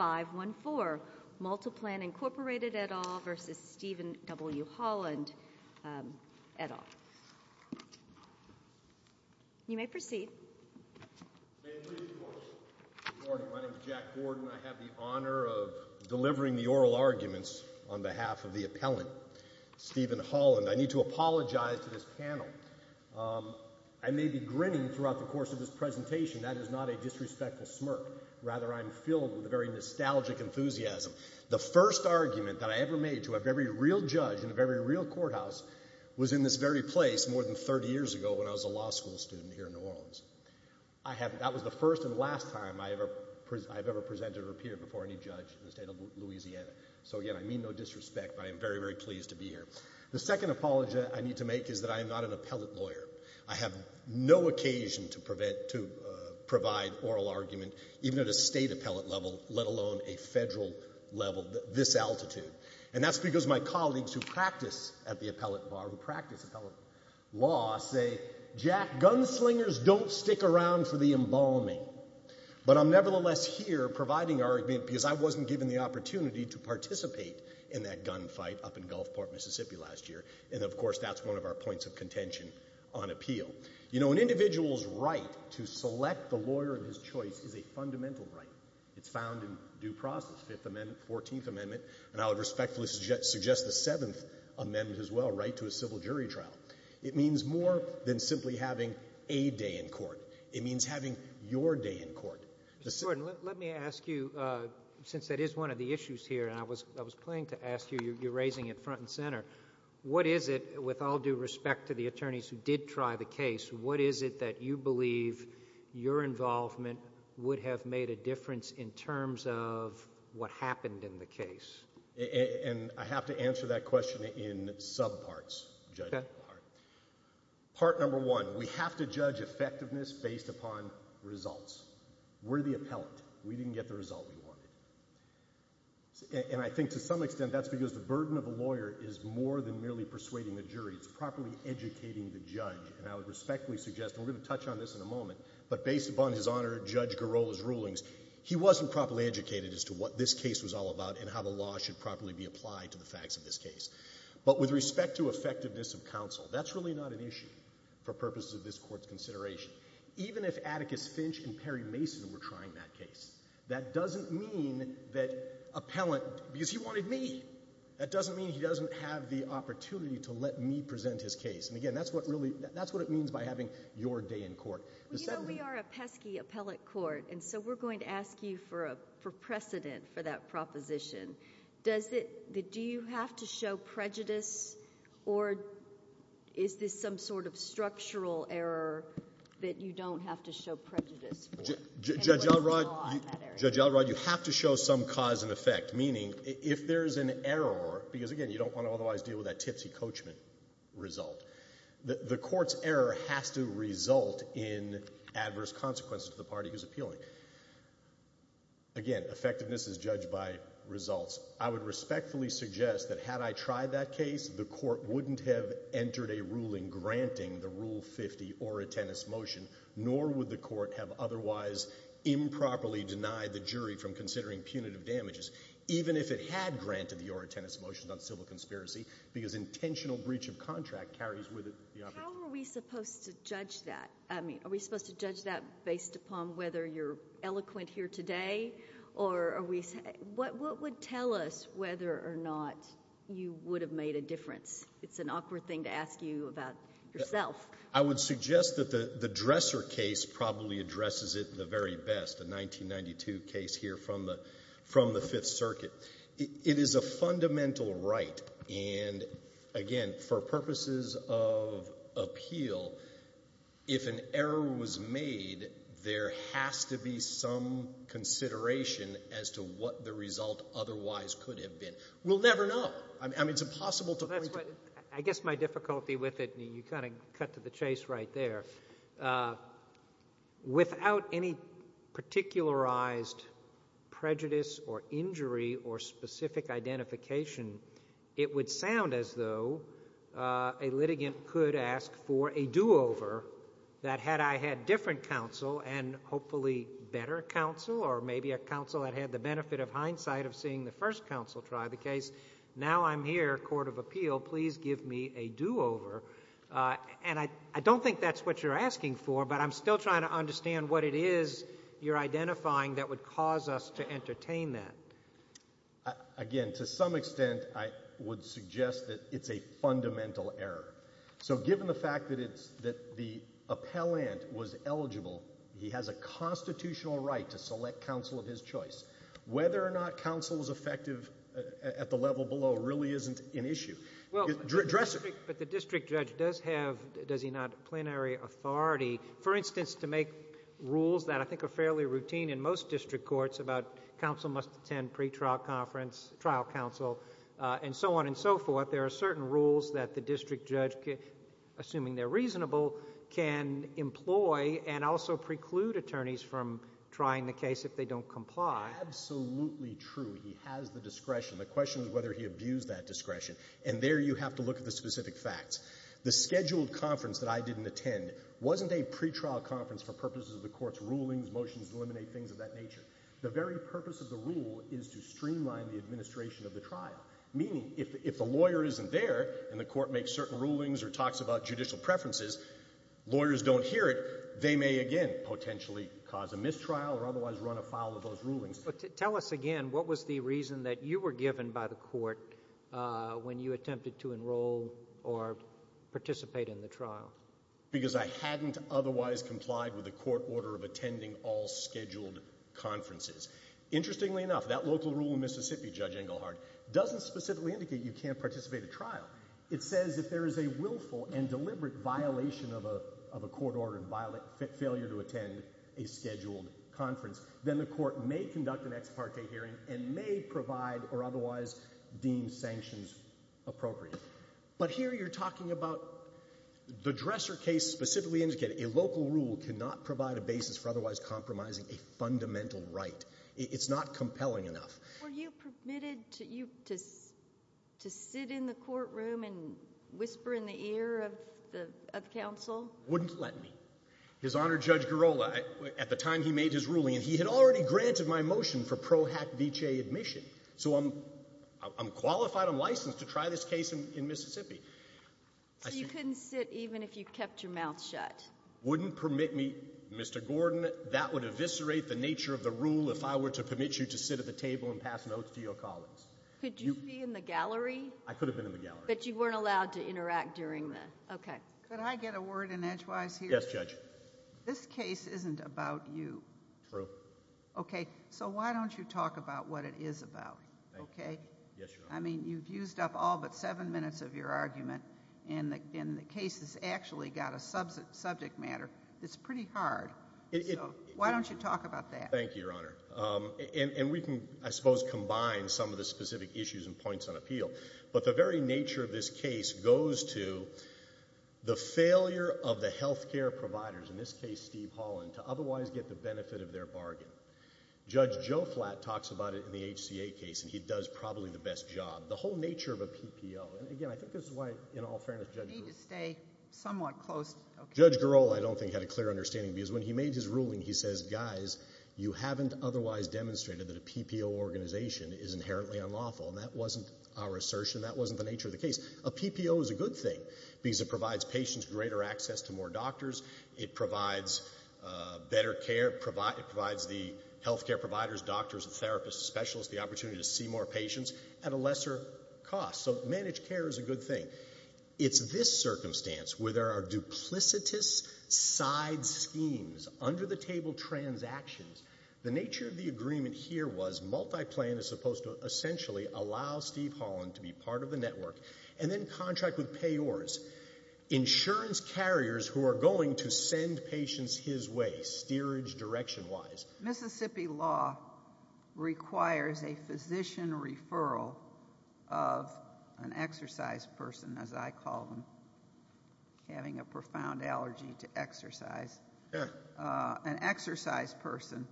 Good morning. My name is Jack Gordon. I have the honor of delivering the oral arguments on behalf of the appellant, Steven Holland. I need to apologize to this panel. I may be grinning throughout the course of this presentation. That is not a disrespectful smirk. Rather, I'm filled with a very nostalgic enthusiasm. The first argument that I ever made to a very real judge in a very real courthouse was in this very place more than 30 years ago when I was a law school student here in New Orleans. That was the first and last time I've ever presented or appeared before any judge in the state of Louisiana. So again, I mean no disrespect but I am very, very pleased to be here. The second apology I need to make is that I am not an appellate lawyer. I have no occasion to provide oral argument even at a state appellate level, let alone a federal level, this altitude. And that's because my colleagues who practice at the appellate bar, who practice appellate law, say, Jack, gunslingers don't stick around for the embalming. But I'm nevertheless here providing our argument because I wasn't given the opportunity to participate in that gunfight up in Gulfport, Mississippi last year. And of course, that's one of our points of contention on appeal. You know, an individual's right to select the lawyer of his choice is a fundamental right. It's found in due process, Fifth Amendment, Fourteenth Amendment, and I would respectfully suggest the Seventh Amendment as well, right to a civil jury trial. It means more than simply having a day in court. It means having your day in court. Mr. Gordon, let me ask you, since that is one of the issues here, and I was planning to ask you, you're raising it front and center, what is it, with all due respect to the attorneys who did try the case, what is it that you believe your involvement would have made a difference in terms of what happened in the case? And I have to answer that question in sub-parts, judge. Part number one, we have to judge effectiveness based upon results. We're the appellate. We didn't get the result we wanted. And I think to some extent that's because the burden of a lawyer is more than merely persuading the judge. And I would respectfully suggest, and we're going to touch on this in a moment, but based upon his honor, Judge Girola's rulings, he wasn't properly educated as to what this case was all about and how the law should properly be applied to the facts of this case. But with respect to effectiveness of counsel, that's really not an issue for purposes of this Court's consideration. Even if Atticus Finch and Perry Mason were trying that case, that doesn't mean that appellant, because he wanted me, that doesn't mean he doesn't have the opportunity to let me present his case. And again, that's what really, that's what it means by having your day in court. Well, you know, we are a pesky appellate court, and so we're going to ask you for precedent for that proposition. Does it, do you have to show prejudice, or is this some sort of structural error that you don't have to show prejudice for? Judge Elrod, Judge Elrod, you have to show some cause and effect, meaning if there's an error, because again, you don't want to otherwise deal with that tipsy coachman result, the Court's error has to result in adverse consequences to the party who's appealing. Again, effectiveness is judged by results. I would respectfully suggest that had I tried that case, the Court wouldn't have entered a ruling granting the Rule 50 or a Tennis Motion, nor would the Court have otherwise improperly denied the jury from considering punitive damages, even if it had granted the ORA Tennis Motion on civil conspiracy, because intentional breach of contract carries with it the opportunity. How are we supposed to judge that? I mean, are we supposed to judge that based upon whether you're eloquent here today, or are we, what would tell us whether or not you would have made a difference? It's an awkward thing to ask you about yourself. I would suggest that the Dresser case probably addresses it the very best, the 1992 case here from the Fifth Circuit. It is a fundamental right, and again, for purposes of appeal, if an error was made, there has to be some consideration as to what the result otherwise could have been. We'll never know. I mean, it's impossible to point to. I guess my difficulty with it, and you kind of cut to the chase right there, without any particularized prejudice or injury or specific identification, it would sound as though a litigant could ask for a do-over, that had I had different counsel, and hopefully better counsel, or maybe a counsel that had the benefit of hindsight of seeing the first counsel try the case, now I'm here, Court of Appeal, please give me a do-over. And I don't think that's what you're asking for, but I'm still trying to understand what it is you're identifying that would cause us to entertain that. Again, to some extent, I would suggest that it's a fundamental error. So given the fact that it's, that the appellant was eligible, he has a constitutional right to select counsel of his choice. Whether or not counsel is effective at the level below really isn't an issue. Well, but the district judge does have, does he not, plenary authority, for instance, to make rules that I think are fairly routine in most district courts about counsel must attend pretrial conference, trial counsel, and so on and so forth. There are certain rules that the district judge, assuming they're reasonable, can employ and also preclude attorneys from trying the case if they don't comply. Absolutely true. He has the discretion. The question is whether he abused that discretion. And there you have to look at the specific facts. The scheduled conference that I didn't attend wasn't a pretrial conference for purposes of the court's rulings, motions to eliminate things of that nature. The very purpose of the rule is to streamline the administration of the trial, meaning if the lawyer isn't there and the court makes certain rulings or talks about judicial preferences, lawyers don't hear it, they may again potentially cause a mistrial or otherwise run afoul of those rulings. Tell us again, what was the reason that you were given by the court when you attempted to enroll or participate in the trial? Because I hadn't otherwise complied with the court order of attending all scheduled conferences. Interestingly enough, that local rule in Mississippi, Judge Engelhardt, doesn't specifically indicate you can't participate in a trial. It says if there is a willful and deliberate violation of a court order and failure to attend a scheduled conference, then the court may conduct an appropriate. But here you're talking about the dresser case specifically indicating a local rule cannot provide a basis for otherwise compromising a fundamental right. It's not compelling enough. Were you permitted to sit in the courtroom and whisper in the ear of the counsel? Wouldn't let me. His Honor, Judge Garrola, at the time he made his ruling, and he had already granted my motion for Pro Hac Vitae admission. So I'm qualified, I'm licensed to try this case in Mississippi. So you couldn't sit even if you kept your mouth shut? Wouldn't permit me, Mr. Gordon. That would eviscerate the nature of the rule if I were to permit you to sit at the table and pass notes to your colleagues. Could you be in the gallery? I could have been in the gallery. But you weren't allowed to interact during the, okay. Could I get a word in edgewise here? Yes, Judge. This case isn't about you. True. Okay, so why don't you talk about what it is about, okay? Yes, Your Honor. I mean, you've used up all but seven minutes of your argument, and the case has actually got a subject matter that's pretty hard. So why don't you talk about that? Thank you, Your Honor. And we can, I suppose, combine some of the specific issues and points on appeal. But the very nature of this case goes to the failure of the health care providers, in this case, Steve Holland, to otherwise get the benefit of their bargain. Judge Joe Flatt talks about it in the HCA case, and he does probably the best job. The whole nature of a PPO, and again, I think this is why, in all fairness, Judge Girola Need to stay somewhat close. Judge Girola, I don't think, had a clear understanding because when he made his ruling, he says, guys, you haven't otherwise demonstrated that a PPO organization is inherently unlawful. And that wasn't our assertion. That wasn't the nature of the case. A PPO is a good thing because it provides patients greater access to more doctors. It provides better care. It provides the health care providers, doctors, therapists, specialists, the opportunity to see more patients at a lesser cost. So managed care is a good thing. It's this circumstance where there are duplicitous side schemes, under-the-table transactions. The nature of the agreement here was Multiplan is supposed to essentially allow Steve Holland to be part of the network, and then contract with Payors, insurance carriers who are going to send patients his way, steerage direction-wise. Mississippi law requires a physician referral of an exercise person, as I call them, having a profound allergy to exercise. An exercise person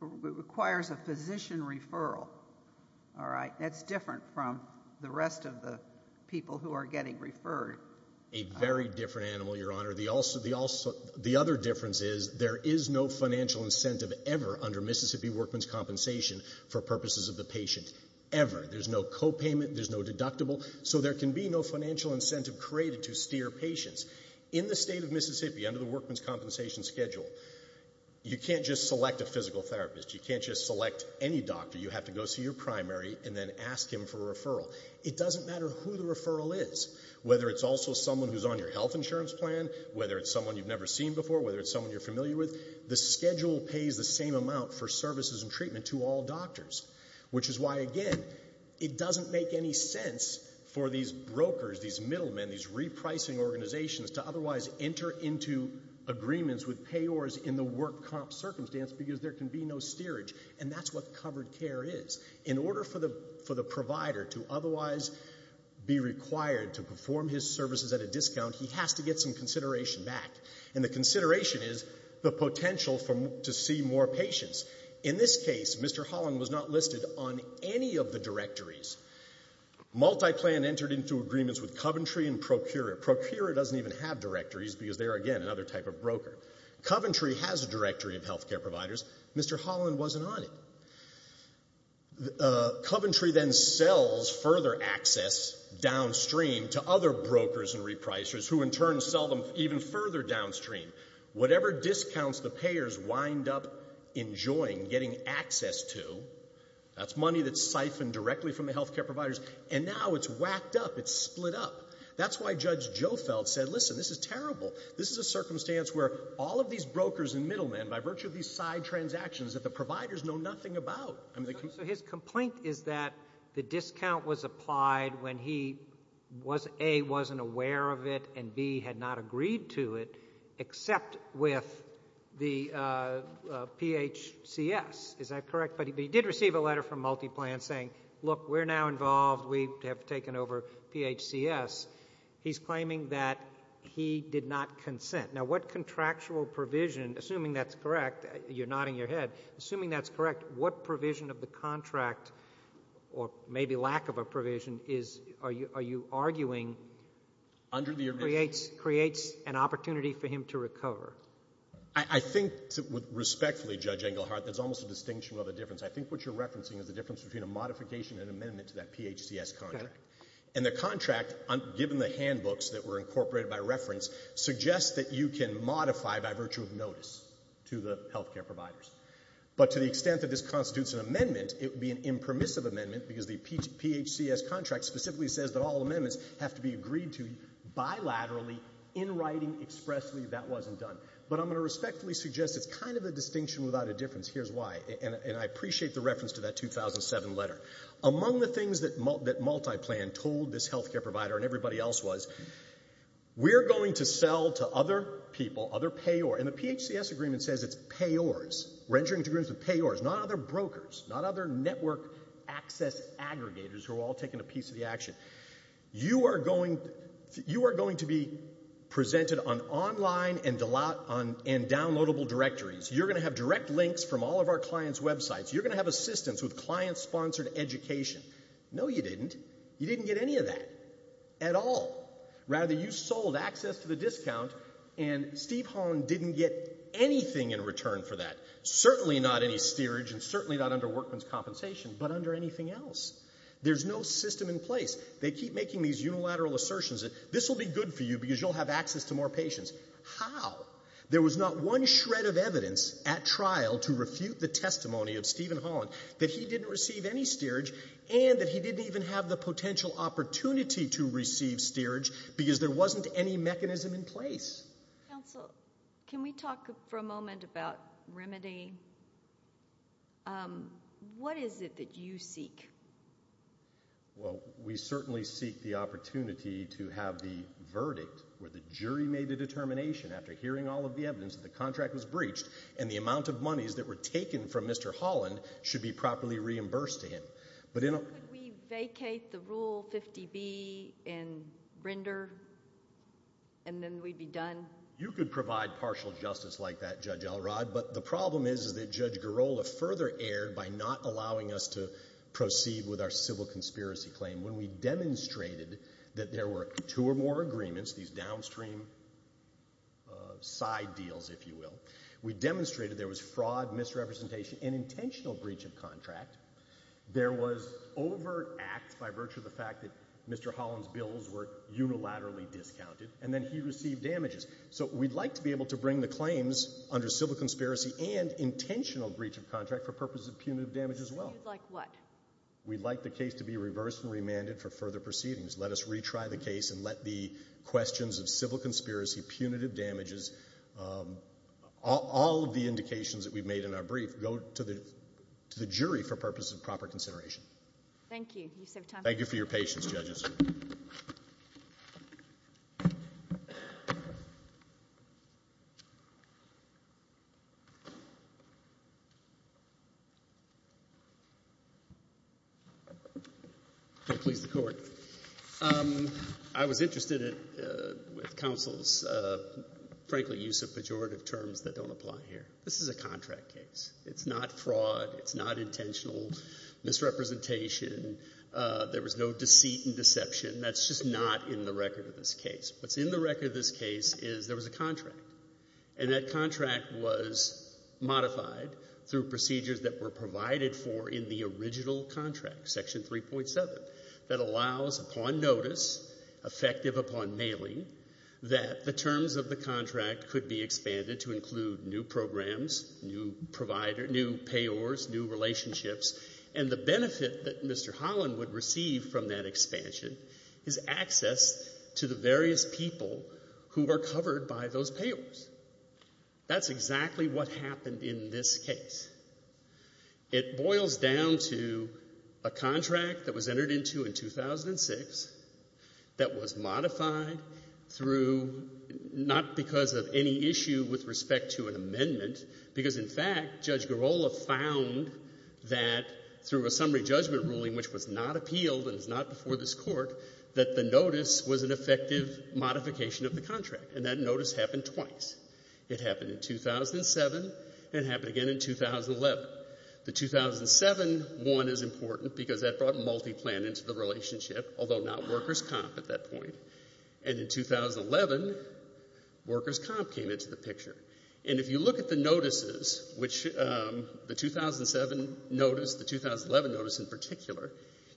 requires a physician referral. All the rest of the people who are getting referred. A very different animal, Your Honor. The other difference is there is no financial incentive ever under Mississippi Workman's Compensation for purposes of the patient, ever. There's no copayment. There's no deductible. So there can be no financial incentive created to steer patients. In the state of Mississippi, under the Workman's Compensation schedule, you can't just select a physical therapist. You can't just select any doctor. You have to go see your primary and then ask him for a referral. It doesn't matter who the referral is, whether it's also someone who's on your health insurance plan, whether it's someone you've never seen before, whether it's someone you're familiar with. The schedule pays the same amount for services and treatment to all doctors, which is why, again, it doesn't make any sense for these brokers, these middlemen, these repricing organizations to otherwise enter into agreements with Payors in the work comp circumstance because there can be no steerage. And that's what In order for the provider to otherwise be required to perform his services at a discount, he has to get some consideration back. And the consideration is the potential to see more patients. In this case, Mr. Holland was not listed on any of the directories. MultiPlan entered into agreements with Coventry and Procura. Procura doesn't even have directories because they are, again, another type of broker. Coventry has a directory of health care providers. Mr. Holland wasn't on it. Coventry then sells further access downstream to other brokers and repricers who, in turn, sell them even further downstream. Whatever discounts the payers wind up enjoying getting access to, that's money that's siphoned directly from the health care providers. And now it's whacked up. It's split up. That's why Judge Jofeld said, listen, this is terrible. This is a circumstance where all of these brokers and transactions that the providers know nothing about. So his complaint is that the discount was applied when he, A, wasn't aware of it and B, had not agreed to it except with the PHCS. Is that correct? But he did receive a letter from MultiPlan saying, look, we're now involved. We have taken over PHCS. He's claiming that he did not consent. Now, what contractual provision, assuming that's correct, you're nodding your head. Assuming that's correct, what provision of the contract, or maybe lack of a provision, are you arguing creates an opportunity for him to recover? I think, respectfully, Judge Engelhardt, that's almost a distinction of a difference. I think what you're referencing is the difference between a modification and amendment to that reference suggests that you can modify by virtue of notice to the health care providers. But to the extent that this constitutes an amendment, it would be an impermissive amendment because the PHCS contract specifically says that all amendments have to be agreed to bilaterally, in writing, expressly. That wasn't done. But I'm going to respectfully suggest it's kind of a distinction without a difference. Here's why. And I appreciate the reference to that 2007 letter. Among the things that MultiPlan told this health care provider and everybody else was, we're going to sell to other people, other payors. And the PHCS agreement says it's payors. We're entering into agreements with payors, not other brokers, not other network access aggregators who are all taking a piece of the action. You are going to be presented on online and downloadable directories. You're going to have direct links from all of our clients' websites. You're going to have assistance with client-sponsored education. No, you didn't. You didn't get any of that at all. Rather, you sold access to the discount, and Steve Holland didn't get anything in return for that, certainly not any steerage and certainly not under workman's compensation, but under anything else. There's no system in place. They keep making these unilateral assertions that this will be good for you because you'll have access to more patients. How? There was not one shred of evidence at trial to refute the testimony of Steve Holland that he didn't receive any steerage and that he didn't even have the potential opportunity to receive steerage because there wasn't any mechanism in place. Counsel, can we talk for a moment about remedy? What is it that you seek? Well, we certainly seek the opportunity to have the verdict where the jury made the determination after hearing all of the evidence that the contract was breached and the amount of monies that were taken from Mr. Holland should be properly reimbursed to him. Could we vacate the Rule 50B in Brinder and then we'd be done? You could provide partial justice like that, Judge Elrod, but the problem is that Judge Girola further erred by not allowing us to proceed with our civil conspiracy claim when we demonstrated that there were two or more agreements, these downstream side deals, if you will, of misrepresentation and intentional breach of contract. There was overt act by virtue of the fact that Mr. Holland's bills were unilaterally discounted, and then he received damages. So we'd like to be able to bring the claims under civil conspiracy and intentional breach of contract for purposes of punitive damage as well. So you'd like what? We'd like the case to be reversed and remanded for further proceedings. Let us retry the case and let the questions of civil conspiracy, punitive damages, all of the indications that we've made in our brief go to the jury for purposes of proper consideration. Thank you. You still have time. Thank you for your patience, Judges. Can I please the Court? I was interested with counsel's, frankly, use of pejorative terms that don't apply here. This is a contract case. It's not fraud. It's not intentional misrepresentation. There was no deceit and deception. That's just not in the record of this case. What's in the record of this case is there was a contract, and that contract was modified through procedures that were provided for in the original contract, Section 3.7, that allows upon notice, effective upon mailing, that the terms of the contract could be expanded to include new programs, new payors, new relationships, and the benefit that Mr. Holland would receive from that expansion is access to the various people who are covered by those payors. That's exactly what happened in this case. It boils down to a contract that was modified through, not because of any issue with respect to an amendment, because in fact, Judge Girola found that through a summary judgment ruling, which was not appealed and was not before this Court, that the notice was an effective modification of the contract. And that notice happened twice. It happened in 2007 and it happened again in 2011. The 2007 one is important because that brought multi-plan into the relationship, although not workers' comp at that point. And in 2011, workers' comp came into the picture. And if you look at the notices, which the 2007 notice, the 2011 notice in particular,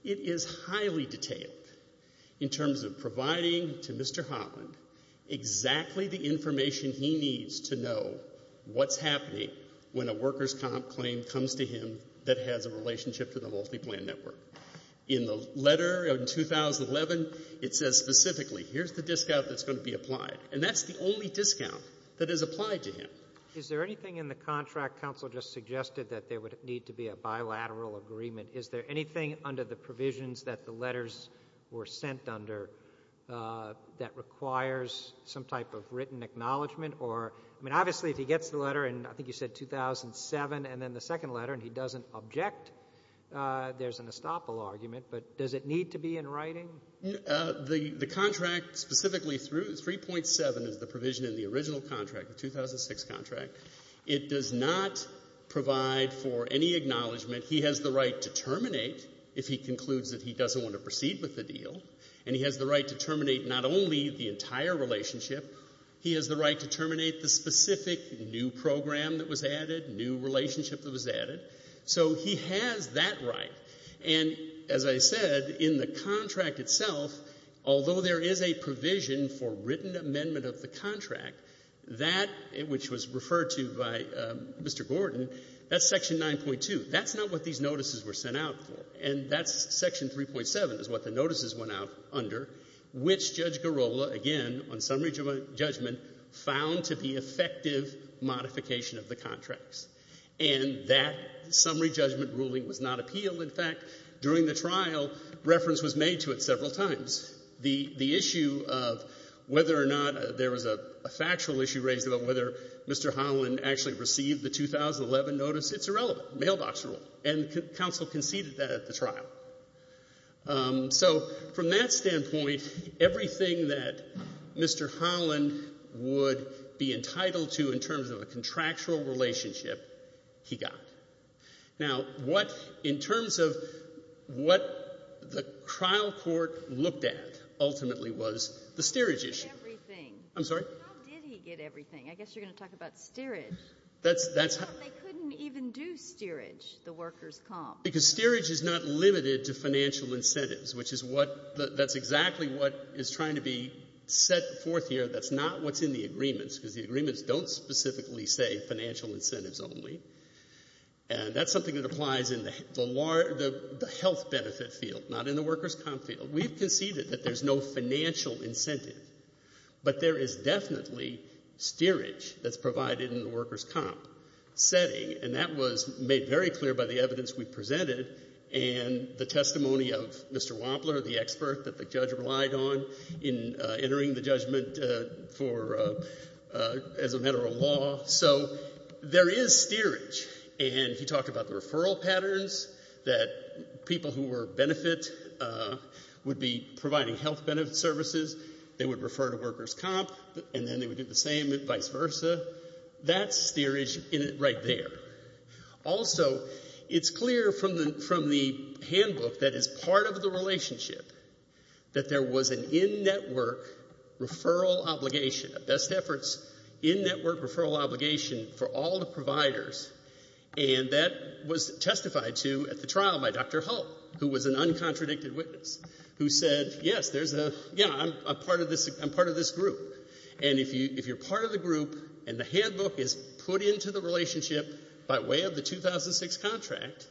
it is highly detailed in terms of providing to Mr. Holland exactly the information he needs to know what's happening when a workers' comp claim comes to him that has a relationship to the multi-plan network. In the letter in 2011, it says specifically, here's the discount that's going to be applied. And that's the only discount that is applied to him. Is there anything in the contract counsel just suggested that there would need to be a bilateral agreement? Is there anything under the provisions that the letters were sent under that requires some type of written acknowledgment or, I mean, obviously if he gets the letter in, I think you said 2007, and then the second letter, and he doesn't object, there's an estoppel argument. But does it need to be in writing? The contract specifically, 3.7 is the provision in the original contract, the 2006 contract. It does not provide for any acknowledgment. He has the right to terminate if he concludes that he doesn't want to proceed with the deal. And he has the right to terminate not only the entire relationship, he has the right to terminate the specific new program that was added, new relationship that was added. So he has that right. And as I said, in the contract itself, although there is a provision for written amendment of the contract, that, which was referred to by Mr. Gordon, that's Section 9.2. That's not what these notices were sent out for. And that's Section 3.7 is what the notices went out under, which Judge Girola, again, on summary judgment, found to be effective modification of the contracts. And that summary judgment ruling was not appealed. In fact, during the trial, reference was made to it several times. The issue of whether or not there was a factual issue raised about whether Mr. Holland actually received the 2011 notice, it's irrelevant. Mailbox rule. And counsel conceded that at trial. So from that standpoint, everything that Mr. Holland would be entitled to in terms of a contractual relationship, he got. Now, what, in terms of what the trial court looked at ultimately was the steerage issue. Everything. I'm sorry? How did he get everything? I guess you're going to talk about steerage. That's how. They couldn't even do steerage, the workers' comp. Because steerage is not limited to financial incentives, which is what, that's exactly what is trying to be set forth here. That's not what's in the agreements, because the agreements don't specifically say financial incentives only. And that's something that applies in the health benefit field, not in the workers' comp field. We've conceded that there's no financial incentive. But there is definitely steerage that's provided in the workers' comp setting. And that was made very clear by the evidence we presented and the testimony of Mr. Wampler, the expert that the judge relied on in entering the judgment for, as a matter of law. So there is steerage. And he talked about the referral patterns, that people who were benefit would be providing health benefit services, they would refer to workers' comp, and then they would do the same and vice versa. That's steerage right there. Also, it's clear from the handbook that is part of the relationship that there was an in-network referral obligation, a best efforts in-network referral obligation for all the providers. And that was testified to at the trial by Dr. Hull, who was an uncontradicted witness, who said, yes, there's a, yeah, I'm part of this group. And if you're part of the group and the handbook is put into the relationship by way of the 2006 contract,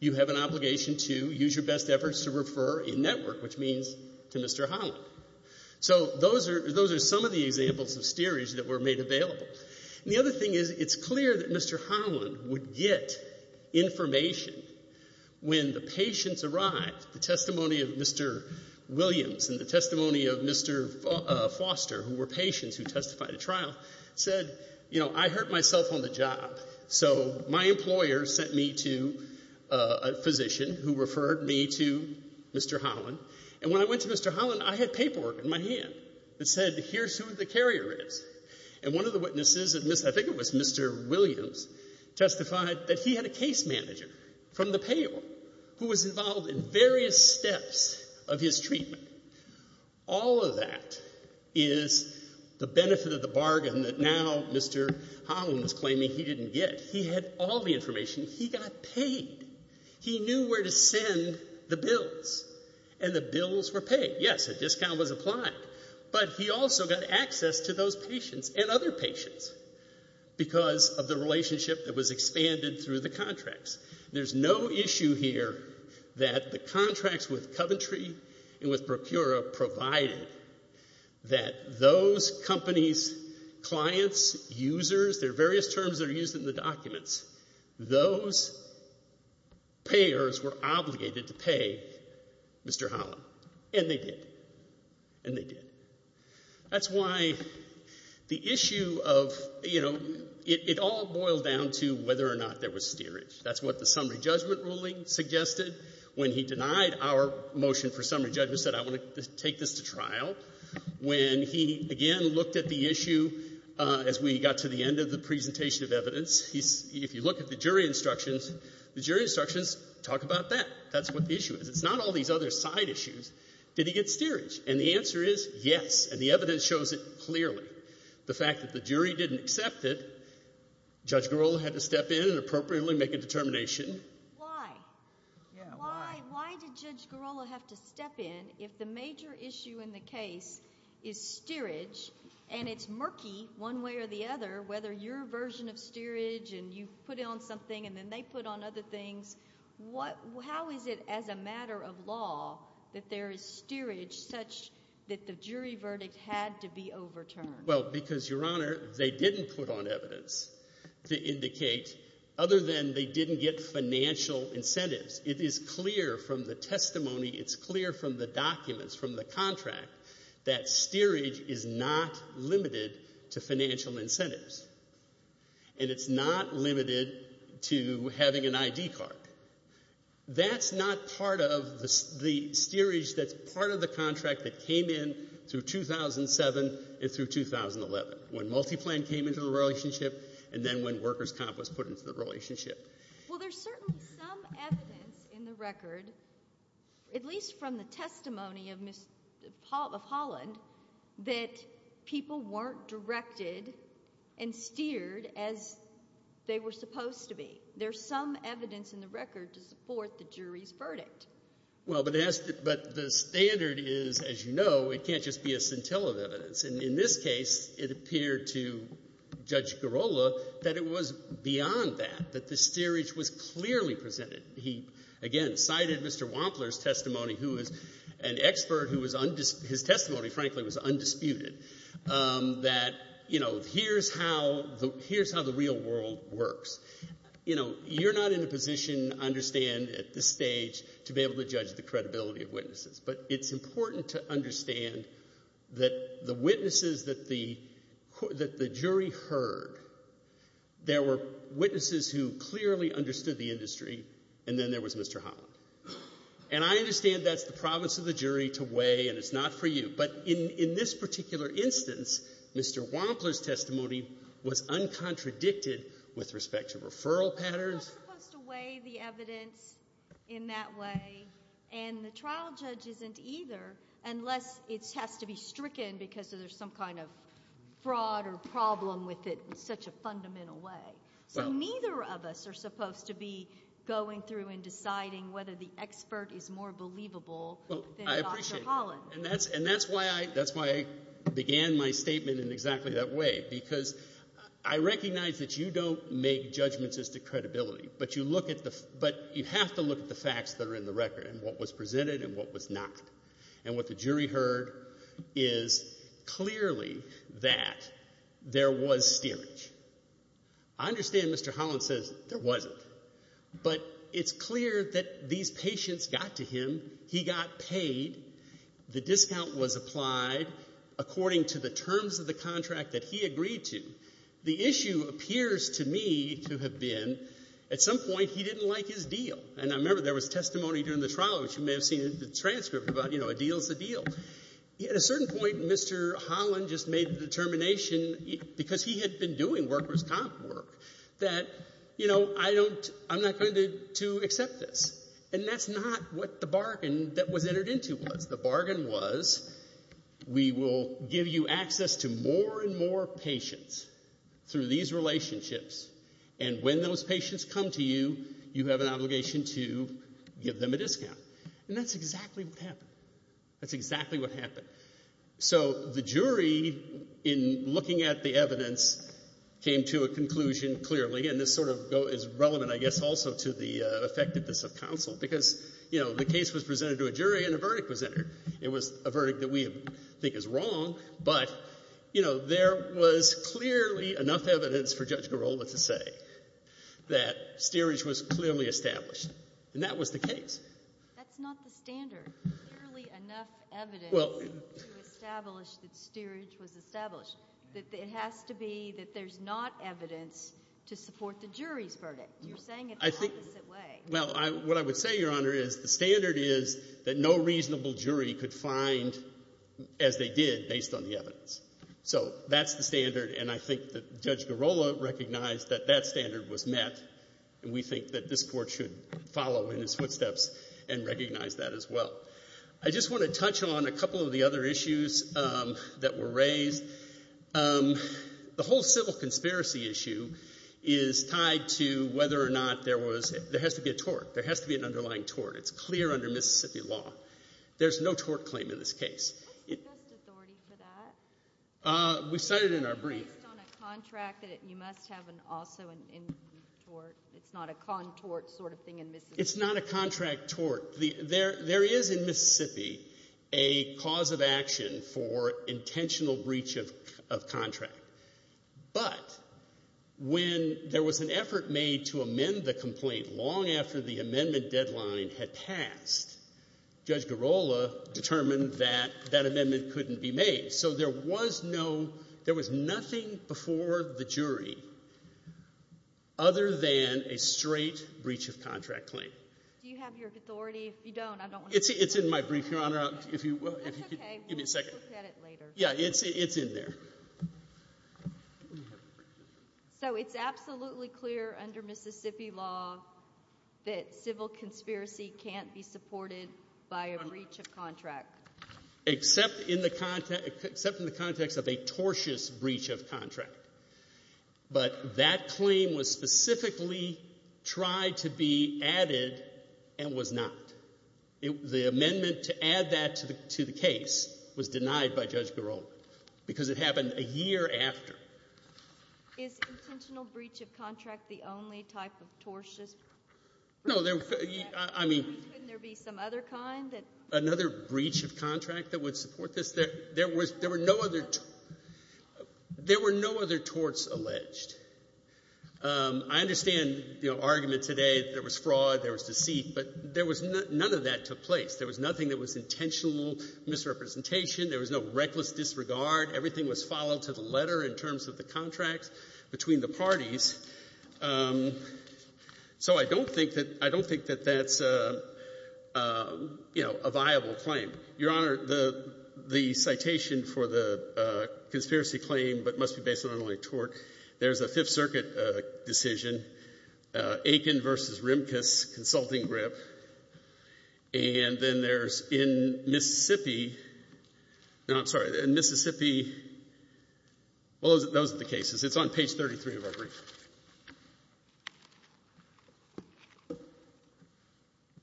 you have an obligation to use your best efforts to refer in-network, which means to Mr. Holland. So those are some of the examples of steerage that were made available. The other thing is, it's clear that Mr. Holland would get information when the patients arrived, the testimony of Mr. Williams and the testimony of Mr. Foster, who were patients who testified at trial, said, you know, I hurt myself on the job, so my employer sent me to a physician who referred me to Mr. Holland. And when I went to Mr. Holland, I had paperwork in my hand that said, here's who the carrier is. And one of the witnesses, I think it was Mr. Williams, testified that he had a case manager from the payor who was involved in various steps of his treatment. All of that is the benefit of the bargain that now Mr. Holland was claiming he didn't get. He had all the information. He got paid. He knew where to send the bills. And the bills were paid. Yes, a discount was applied. But he also got access to those patients and other patients because of the relationship that was expanded through the contracts. There's no issue here that the contracts with Coventry and with Procura provided that those companies, clients, users, there are various terms that are used in the documents, those payors were obligated to pay Mr. Holland. And they did. And they did. That's why the issue of, you know, it all boiled down to whether or not there was steerage. That's what the summary judgment ruling suggested. When he denied our motion for summary judgment, said I want to take this to trial. When he, again, looked at the issue as we got to the end of the presentation of evidence, if you look at the jury instructions, the jury instructions talk about that. That's what the issue is. It's not all these other side issues. Did he get steerage? And the answer is yes. And the evidence shows it clearly. The fact that the jury didn't accept it, Judge Girola had to step in and appropriately make a determination. Why? Why did Judge Girola have to step in if the major issue in the case is steerage and it's murky one way or the other, whether your version of steerage and you put on something and then they put on other things? How is it as a matter of law that there is steerage such that the jury verdict had to be overturned? Well, because, Your Honor, they didn't put on evidence to indicate, other than they didn't get financial incentives. It is clear from the testimony, it's clear from the documents, from the contract, that steerage is not limited to financial incentives. And it's not limited to having an ID card. That's not part of the steerage that's part of the contract that came in through 2007 and through 2011, when multi-plan came into the relationship and then when workers' comp was put into the relationship. Well, there's certainly some evidence in the record, at least from the testimony of Holland, that people weren't directed and steered as they were supposed to be. There's some evidence in the record to support the jury's verdict. Well, but the standard is, as you know, it can't just be a scintilla of evidence. And in this case, it appeared to Judge Girola that it was beyond that, that the steerage was clearly presented. He, again, cited Mr. Holland's testimony, frankly, was undisputed, that, you know, here's how the real world works. You know, you're not in a position, I understand, at this stage to be able to judge the credibility of witnesses. But it's important to understand that the witnesses that the jury heard, there were witnesses who clearly understood the industry and then there was Mr. Holland. And I understand that's the province of the jury to weigh, and it's not for you. But in this particular instance, Mr. Wampler's testimony was uncontradicted with respect to referral patterns. Well, we're not supposed to weigh the evidence in that way, and the trial judge isn't either unless it has to be stricken because there's some kind of fraud or problem with it in such a fundamental way. So neither of us are supposed to be going through and deciding whether the expert is more believable than Dr. Holland. And that's why I began my statement in exactly that way, because I recognize that you don't make judgments as to credibility, but you have to look at the facts that are in the record and what was presented and what was not. And what the jury heard is clearly that there was steerage. I understand Mr. Holland says there wasn't, but it's clear that these were the facts. The discount was applied according to the terms of the contract that he agreed to. The issue appears to me to have been at some point he didn't like his deal. And I remember there was testimony during the trial, which you may have seen the transcript about, you know, a deal's a deal. At a certain point, Mr. Holland just made the determination because he had been doing workers' comp work that, you know, I'm not going to accept this. And that's not what the bargain that was entered into was. The bargain was, we will give you access to more and more patients through these relationships, and when those patients come to you, you have an obligation to give them a discount. And that's exactly what happened. So the jury, in looking at the evidence, came to a conclusion clearly, and this sort of goes, is relevant, I guess, also to the effectiveness of counsel, because, you know, the case was presented to a jury and a verdict was entered. It was a verdict that we think is wrong, but, you know, there was clearly enough evidence for Judge Girola to say that steerage was clearly established. And that was the case. That's not the standard. Clearly enough evidence to establish that steerage was established. It has to be that there's not evidence to support the jury's verdict. You're saying it the opposite way. Well, what I would say, Your Honor, is the standard is that no reasonable jury could find, as they did, based on the evidence. So that's the standard, and I think that Judge Girola recognized that that standard was met, and we think that this Court should follow in his footsteps and recognize that as well. I just want to touch on a couple of the other issues that were raised. The whole civil conspiracy issue is tied to whether or not there was, there has to be a tort. There has to be an underlying tort. It's clear under Mississippi law. There's no tort claim in this case. What's the best authority for that? We cited it in our brief. Based on a contract that you must have also in tort. It's not a contort sort of thing in Mississippi. It's not a contract tort. There is in Mississippi a cause of action for intentional breach of contract, but when there was an effort made to amend the complaint long after the amendment deadline had passed, Judge Girola determined that that amendment couldn't be made. So there was no, there was nothing before the jury other than a straight breach of contract claim. Do you have your authority? If you don't, I don't want to... It's in my brief, Your Honor. That's okay. Give me a second. We'll look at it later. Yeah, it's in there. So it's absolutely clear under Mississippi law that civil conspiracy can't be supported by a breach of contract? Except in the context of a tortious breach of contract, but that claim was specifically tried to be added and was not. The amendment to add that to the case was denied by Judge Girola because it happened a year after. Is intentional breach of contract the only type of tortious breach of contract? No, I mean... Couldn't there be some other kind that... Another breach of contract that would support this? There were no other torts alleged. I understand the argument today that there was fraud, there was deceit, but none of that took place. There was nothing that was intentional misrepresentation. There was no reckless disregard. Everything was followed to the letter in terms of the contracts between the parties. So I don't think that that's a viable claim. Your Honor, the citation for the conspiracy claim, but must be based on only tort. There's a Fifth Circuit decision, Aiken v. Rimkus, consulting grip. And then there's in Mississippi... No, I'm sorry. In Mississippi... Well, those are the cases. It's on page 33 of our brief.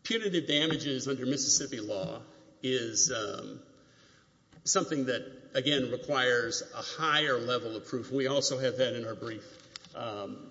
Punitive damages under Mississippi law is something that, again, requires a higher level of proof. We also have that in our brief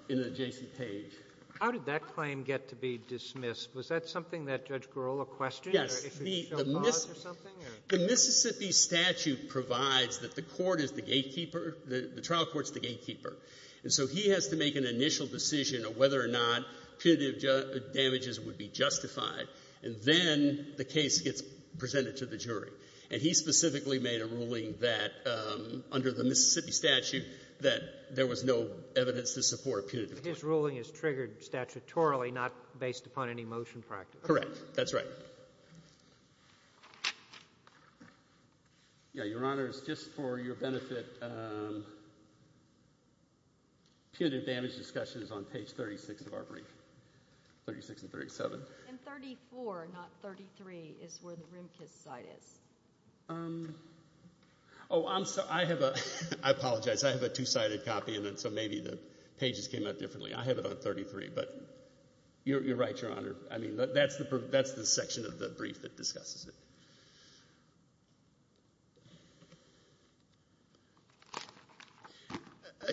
in the J.C. Page. How did that claim get to be dismissed? Was that something that Judge Girola questioned? Yes. Or if it showed cause or something? The Mississippi statute provides that the court is the gatekeeper. The trial court is the gatekeeper. And so he has to make an initial decision of whether or not punitive damages would be justified, and then the case gets presented to the jury. And he specifically made a ruling that, under the Mississippi statute, that there was no evidence to support a punitive... But his ruling is triggered statutorily, not based upon any motion practice. Correct. That's right. Your Honor, just for your benefit, punitive damage discussion is on page 36 of our brief. 36 and 37. And 34, not 33, is where the Rimkus side is. Oh, I'm sorry. I apologize. I have a two-sided copy, so maybe the pages came out differently. I have it on 33, but you're right, Your Honor. I mean, that's the section of the brief that discusses it.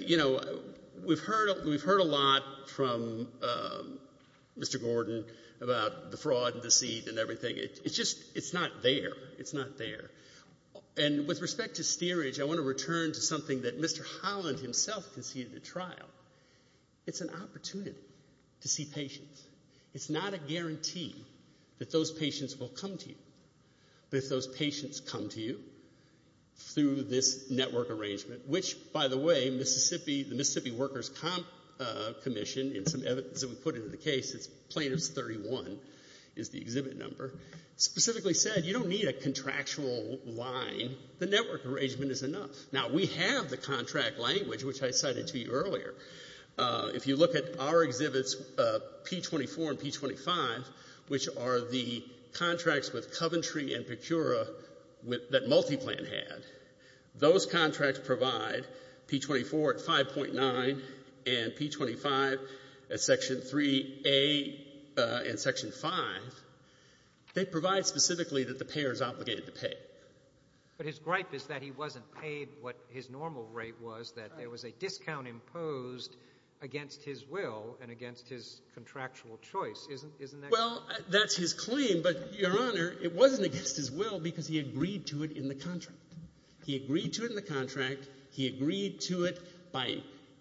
You know, we've heard a lot from Mr. Gordon about the fraud and deceit and everything. It's just, it's not there. It's not there. And with respect to steerage, I want to return to something that Mr. Holland himself conceded at trial. It's an opportunity to see patients. It's not a guarantee that those patients will come to you. But if those patients come to you through this network arrangement, which, by the way, the Mississippi Workers' Comp Commission, in some evidence that we put into the case, plaintiff's 31 is the exhibit number, specifically said, you don't need a contractual line. The network arrangement is enough. Now, we have the contract language, which I cited to you earlier. If you look at our exhibits, P-24 and P-25, which are the contracts with Coventry and Pecura that MultiPlan had, those contracts provide P-24 at 5.9 and P-25 at Section 3A and Section 5. They provide specifically that the payer is obligated to pay. But his gripe is that he wasn't paid what his normal rate was, that there was a discount imposed against his will and against his contractual choice. Isn't that true? Well, that's his claim. But, Your Honor, it wasn't against his will because he agreed to it in the contract. He agreed to it in the contract. He agreed to it by,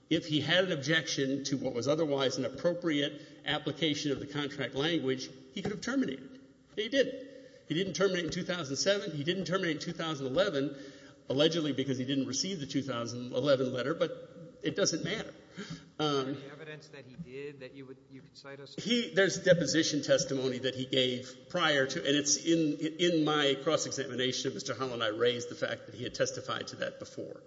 if he had an objection to what was otherwise an appropriate application of the contract language, he could have terminated it. He didn't. He didn't terminate in 2007. He didn't terminate in 2011, allegedly because he didn't receive the 2011 letter. But it doesn't matter. Any evidence that he did that you could cite us to? There's deposition testimony that he gave prior to, and it's in my cross-examination, Mr. Holland and I raised the fact that he had testified to that before.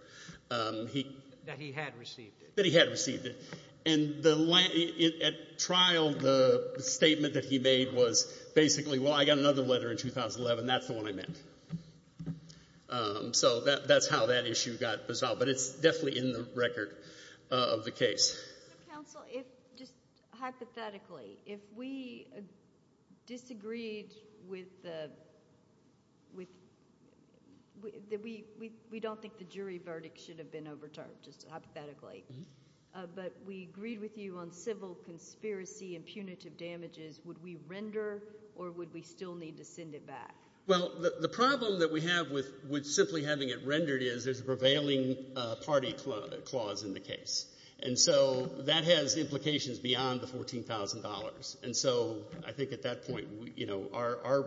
That he had received it. That he had received it. And at trial, the statement that he made was basically, well, I got another letter in 2011. That's the one I met. So that's how that issue got resolved. But it's definitely in the record of the case. Counsel, if just hypothetically, if we disagreed with the, we don't think the jury verdict should have been overturned, just hypothetically. But we agreed with you on civil conspiracy and punitive damages, would we render or would we still need to send it back? Well, the problem that we have with simply having it rendered is there's a prevailing party clause in the case. And so that has implications beyond the $14,000. And so I think at that point, you know, our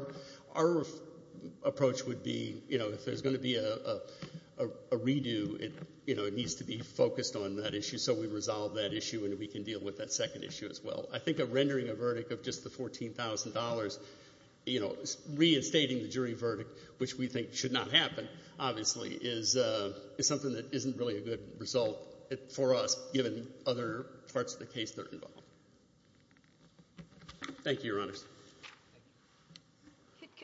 approach would be, you know, if there's going to be a redo, you know, it needs to be focused on that issue. So we resolve that issue and we can deal with that second issue as well. I think of rendering a verdict of just the $14,000, you know, reinstating the jury verdict, which we think should not happen, obviously, is something that isn't really a good result for us, given other parts of the case that are involved. Thank you, Your Honors.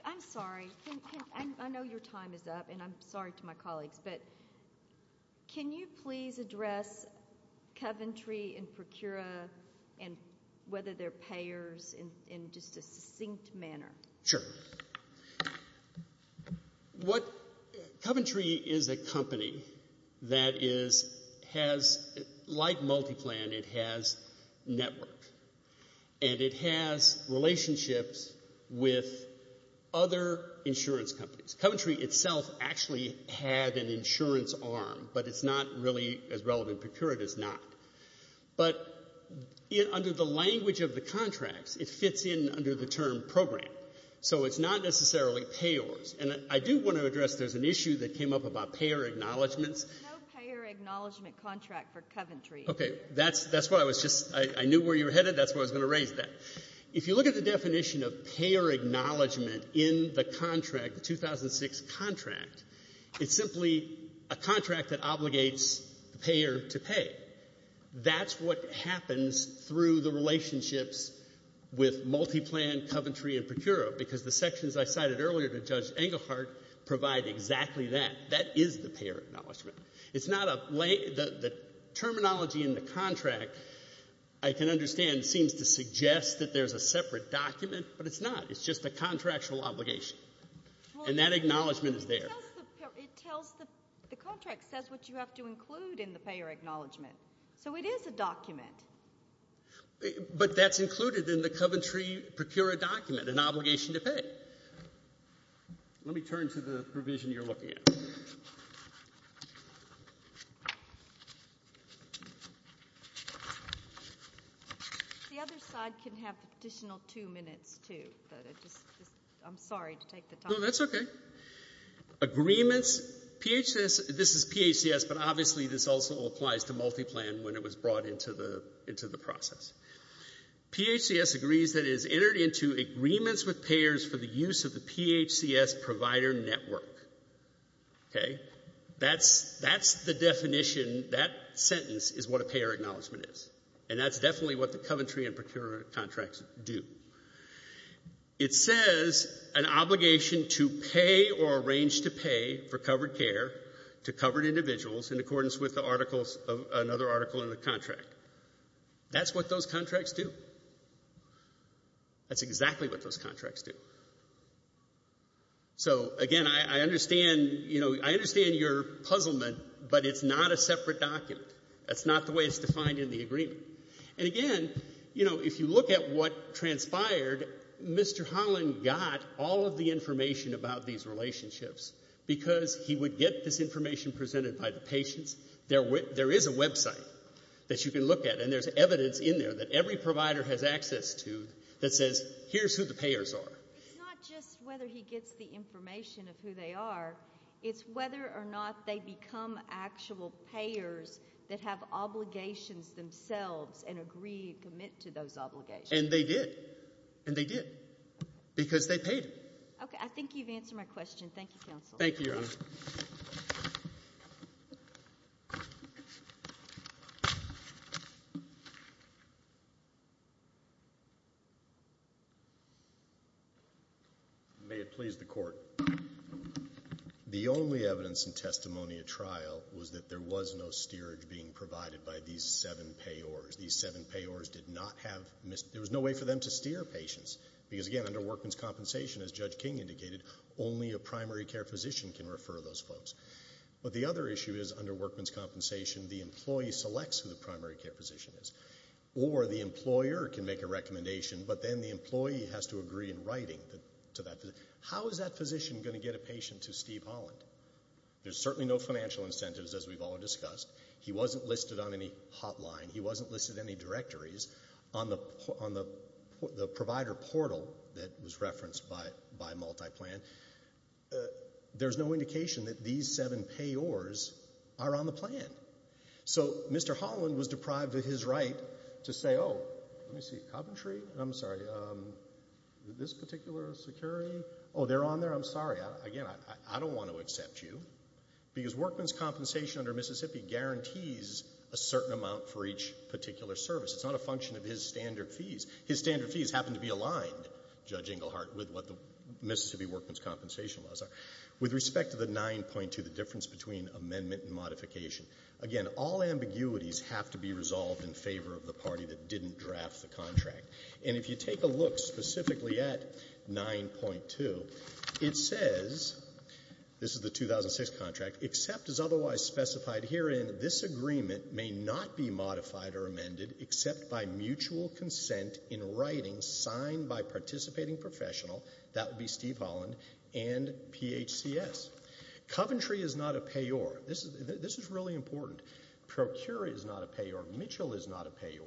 I'm sorry. I know your time is up, and I'm sorry to my colleagues. But can you please address Coventry and Procura and whether they're payers in just a succinct manner? Sure. Coventry is a company that has, like MultiPlan, it has network. And it has relationships with other insurance companies. Coventry itself actually had an insurance arm, but it's not really as relevant. Procura does not. But under the language of the contracts, it fits in under the term program. So it's not necessarily payors. And I do want to address there's an issue that came up about payer acknowledgments. There's no payer acknowledgment contract for Coventry. Okay. That's why I was just — I knew where you were headed. That's why I was going to raise that. If you look at the definition of payer acknowledgment in the contract, the 2006 contract, it's simply a contract that obligates the payer to pay. That's what happens through the relationships with MultiPlan, Coventry, and Procura, because the sections I cited earlier to Judge Engelhardt provide exactly that. That is the payer acknowledgment. It's not a — the terminology in the contract, I can understand, seems to suggest that there's a separate document. But it's not. It's just a contractual obligation. And that acknowledgment is there. It tells the — the contract says what you have to include in the payer acknowledgment. So it is a document. But that's included in the Coventry Procura document, an obligation to pay. Okay. Let me turn to the provision you're looking at. The other side can have the additional two minutes, too. But I just — I'm sorry to take the time. No, that's okay. Agreements. PHCS — this is PHCS, but obviously this also applies to MultiPlan when it was brought into the process. PHCS agrees that it has entered into agreements with payers for the use of the PHCS provider network. Okay. That's the definition — that sentence is what a payer acknowledgment is. And that's definitely what the Coventry and Procura contracts do. It says an obligation to pay or arrange to pay for covered care to covered individuals in accordance with the articles — another article in the contract. That's what those contracts do. That's exactly what those contracts do. So, again, I understand — you know, I understand your puzzlement, but it's not a separate document. That's not the way it's defined in the agreement. And, again, you know, if you look at what transpired, Mr. Holland got all of the information about these relationships because he would get this information presented by the patients. There is a website that you can look at, and there's evidence in there that every provider has access to that says, here's who the payers are. It's not just whether he gets the information of who they are. It's whether or not they become actual payers that have obligations themselves and agree to commit to those obligations. And they did. And they did. Because they paid them. Okay. I think you've answered my question. Thank you, Counsel. Thank you, Your Honor. Thank you. May it please the Court. The only evidence in testimony at trial was that there was no steerage being provided by these seven payors. These seven payors did not have — there was no way for them to steer patients. Because, again, under Workman's Compensation, as Judge King indicated, only a primary care physician can refer those folks. But the other issue is, under Workman's Compensation, the employee selects who the primary care physician is. Or the employer can make a recommendation, but then the employee has to agree in writing to that physician. How is that physician going to get a patient to Steve Holland? There's certainly no financial incentives, as we've all discussed. He wasn't listed on any hotline. He wasn't listed in any directories. On the provider portal that was referenced by Multiplan, there's no indication that these seven payors are on the plan. So Mr. Holland was deprived of his right to say, oh, let me see, Coventry? I'm sorry. This particular security? Oh, they're on there? I'm sorry. Again, I don't want to accept you. Because Workman's Compensation under Mississippi guarantees a certain amount for each particular service. It's not a function of his standard fees. His standard fees happen to be aligned, Judge Englehart, with what the Mississippi Workman's Compensation laws are. With respect to the 9.2, the difference between amendment and modification, again, all ambiguities have to be resolved in favor of the party that didn't draft the contract. And if you take a look specifically at 9.2, it says, this is the 2006 contract, except as otherwise specified herein, this agreement may not be modified or amended except by mutual consent in writing and signed by participating professional, that would be Steve Holland, and PHCS. Coventry is not a payor. This is really important. Procura is not a payor. Mitchell is not a payor.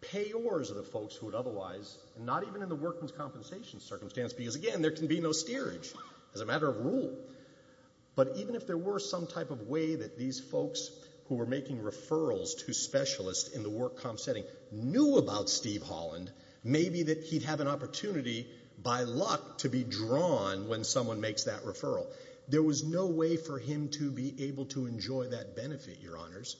Payors are the folks who would otherwise, not even in the Workman's Compensation circumstance, because again, there can be no steerage as a matter of rule. But even if there were some type of way that these folks who were making referrals to specialists in the work comp setting knew about Steve Holland, maybe that he'd have an opportunity by luck to be drawn when someone makes that referral. There was no way for him to be able to enjoy that benefit, Your Honors.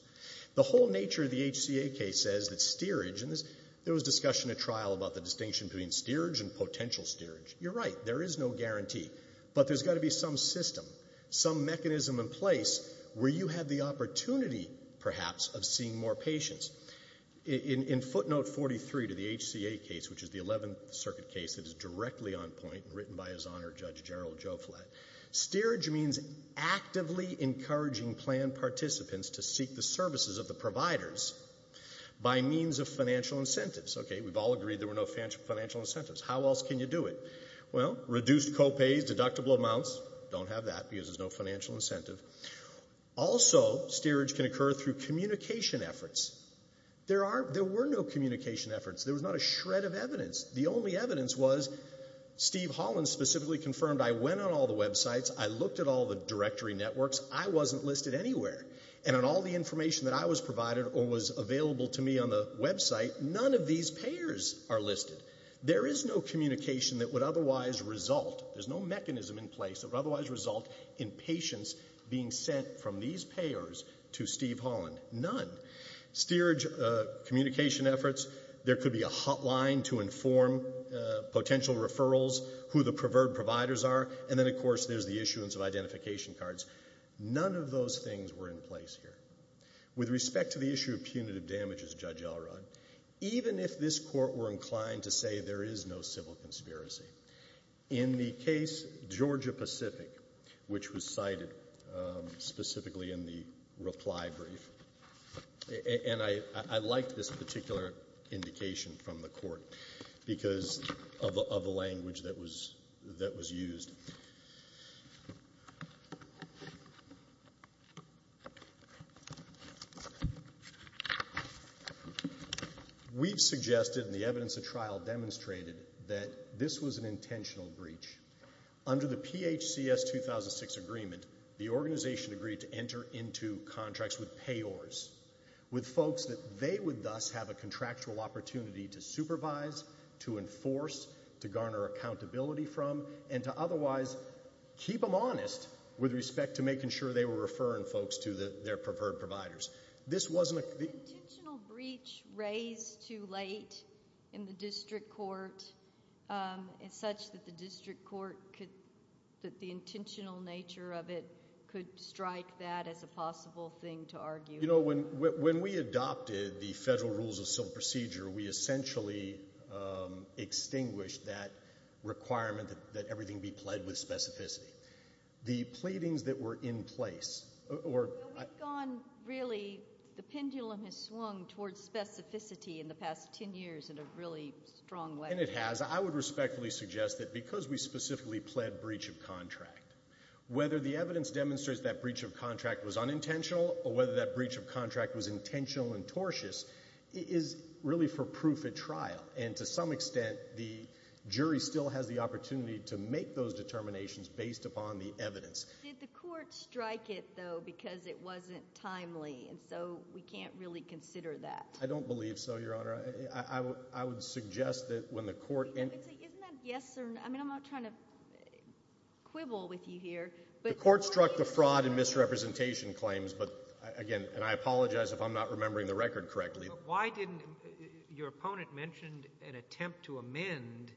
The whole nature of the HCA case says that steerage, and there was discussion at trial about the distinction between steerage and potential steerage. You're right. There is no guarantee. But there's got to be some system, some mechanism in place where you have the opportunity, perhaps, of seeing more patients. In footnote 43 to the HCA case, which is the 11th Circuit case that is directly on point and written by His Honor Judge Gerald Joflat, steerage means actively encouraging planned participants to seek the services of the providers by means of financial incentives. Okay, we've all agreed there were no financial incentives. How else can you do it? Well, reduced copays, deductible amounts. Don't have that because there's no financial incentive. Also, steerage can occur through communication efforts. There were no communication efforts. There was not a shred of evidence. The only evidence was Steve Holland specifically confirmed, I went on all the websites, I looked at all the directory networks, I wasn't listed anywhere. And on all the information that I was provided or was available to me on the website, none of these payers are listed. There is no communication that would otherwise result, there's no mechanism in place that would otherwise result in patients being sent from these payers to Steve Holland. None. Steerage communication efforts, there could be a hotline to inform potential referrals, who the preferred providers are, and then, of course, there's the issuance of identification cards. None of those things were in place here. With respect to the issue of punitive damages, Judge Elrod, even if this Court were inclined to say there is no civil conspiracy, in the case Georgia Pacific, which was cited specifically in the reply brief, and I liked this particular indication from the Court because of the language that was used. We've suggested, and the evidence of trial demonstrated that this was an intentional breach. Under the PHCS 2006 agreement, the organization agreed to enter into contracts with payors, with folks that they would thus have a contractual opportunity to supervise, to enforce, to garner accountability from, and to otherwise keep them honest with respect to making sure they were referring folks to their preferred providers. Was the intentional breach raised too late in the District Court such that the District Court that the intentional nature of it could strike that as a possible thing to argue? You know, when we adopted the Federal Rules of Civil Procedure, we essentially extinguished that requirement that everything be pled with specificity. The pleadings that were in place... The pendulum has swung towards specificity in the past 10 years in a really strong way. And it has. I would respectfully suggest that because we specifically pled breach of contract, whether the evidence demonstrates that breach of contract was unintentional or whether that breach of contract was intentional and tortuous is really for proof at trial, and to some extent the jury still has the opportunity to make those I don't believe so, Your Honor. I would suggest that when the Court... Isn't that yes or no? I mean, I'm not trying to quibble with you here, but... The Court struck the fraud and misrepresentation claims, but again, and I apologize if I'm not remembering the record correctly. Why didn't your opponent mention an attempt to amend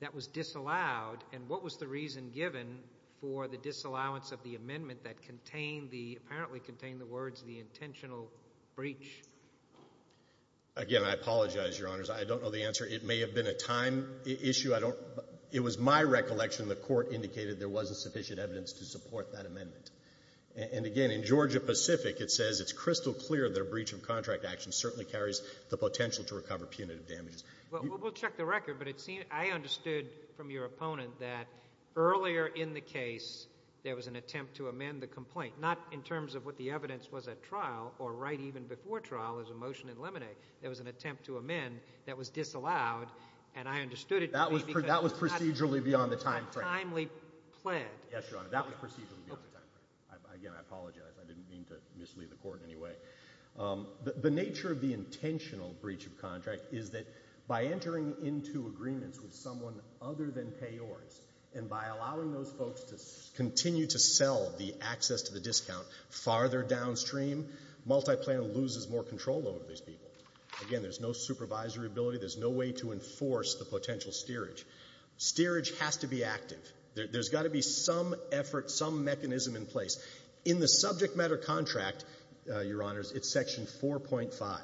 that was disallowed? And what was the reason given for the disallowance of the amendment that apparently contained the words the intentional breach? Again, I apologize, Your Honors. I don't know the answer. It may have been a time issue. It was my recollection the Court indicated there wasn't sufficient evidence to support that amendment. And again, in Georgia Pacific it says it's crystal clear that a breach of contract action certainly carries the potential to recover punitive damages. Well, we'll check the record, but I understood from your opponent that earlier in the case there was an attempt to amend the complaint. Not in terms of what the evidence was at trial, or right even before trial as a motion in limine. There was an attempt to amend that was disallowed, and I understood it... That was procedurally beyond the time frame. ...timely pled. Yes, Your Honor, that was procedurally beyond the time frame. Again, I apologize. I didn't mean to mislead the Court in any way. The nature of the intentional breach of contract is that by entering into agreements with someone other than payors, and by allowing those folks to continue to sell the access to the discount farther downstream, MultiPlan loses more control over these people. Again, there's no supervisory ability. There's no way to enforce the potential steerage. Steerage has to be active. There's got to be some effort, some mechanism in place. In the subject matter contract, Your Honors, it's section 4.5.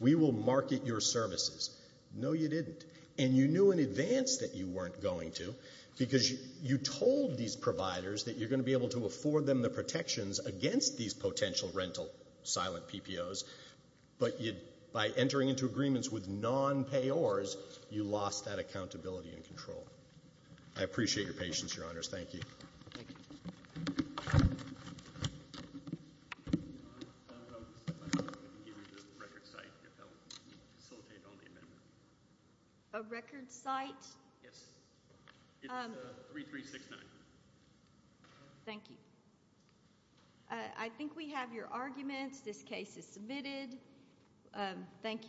We will market your services. No, you didn't. And you knew in advance that you weren't going to, because you told these providers that you're going to be able to afford them the protections against these potential rental silent PPOs, but by entering into agreements with non-payors, you lost that accountability and control. I appreciate your patience, Your Honors. Thank you. Thank you. A record site? Yes. It's 3369. Thank you. I think we have your arguments. This case is submitted. Thank you.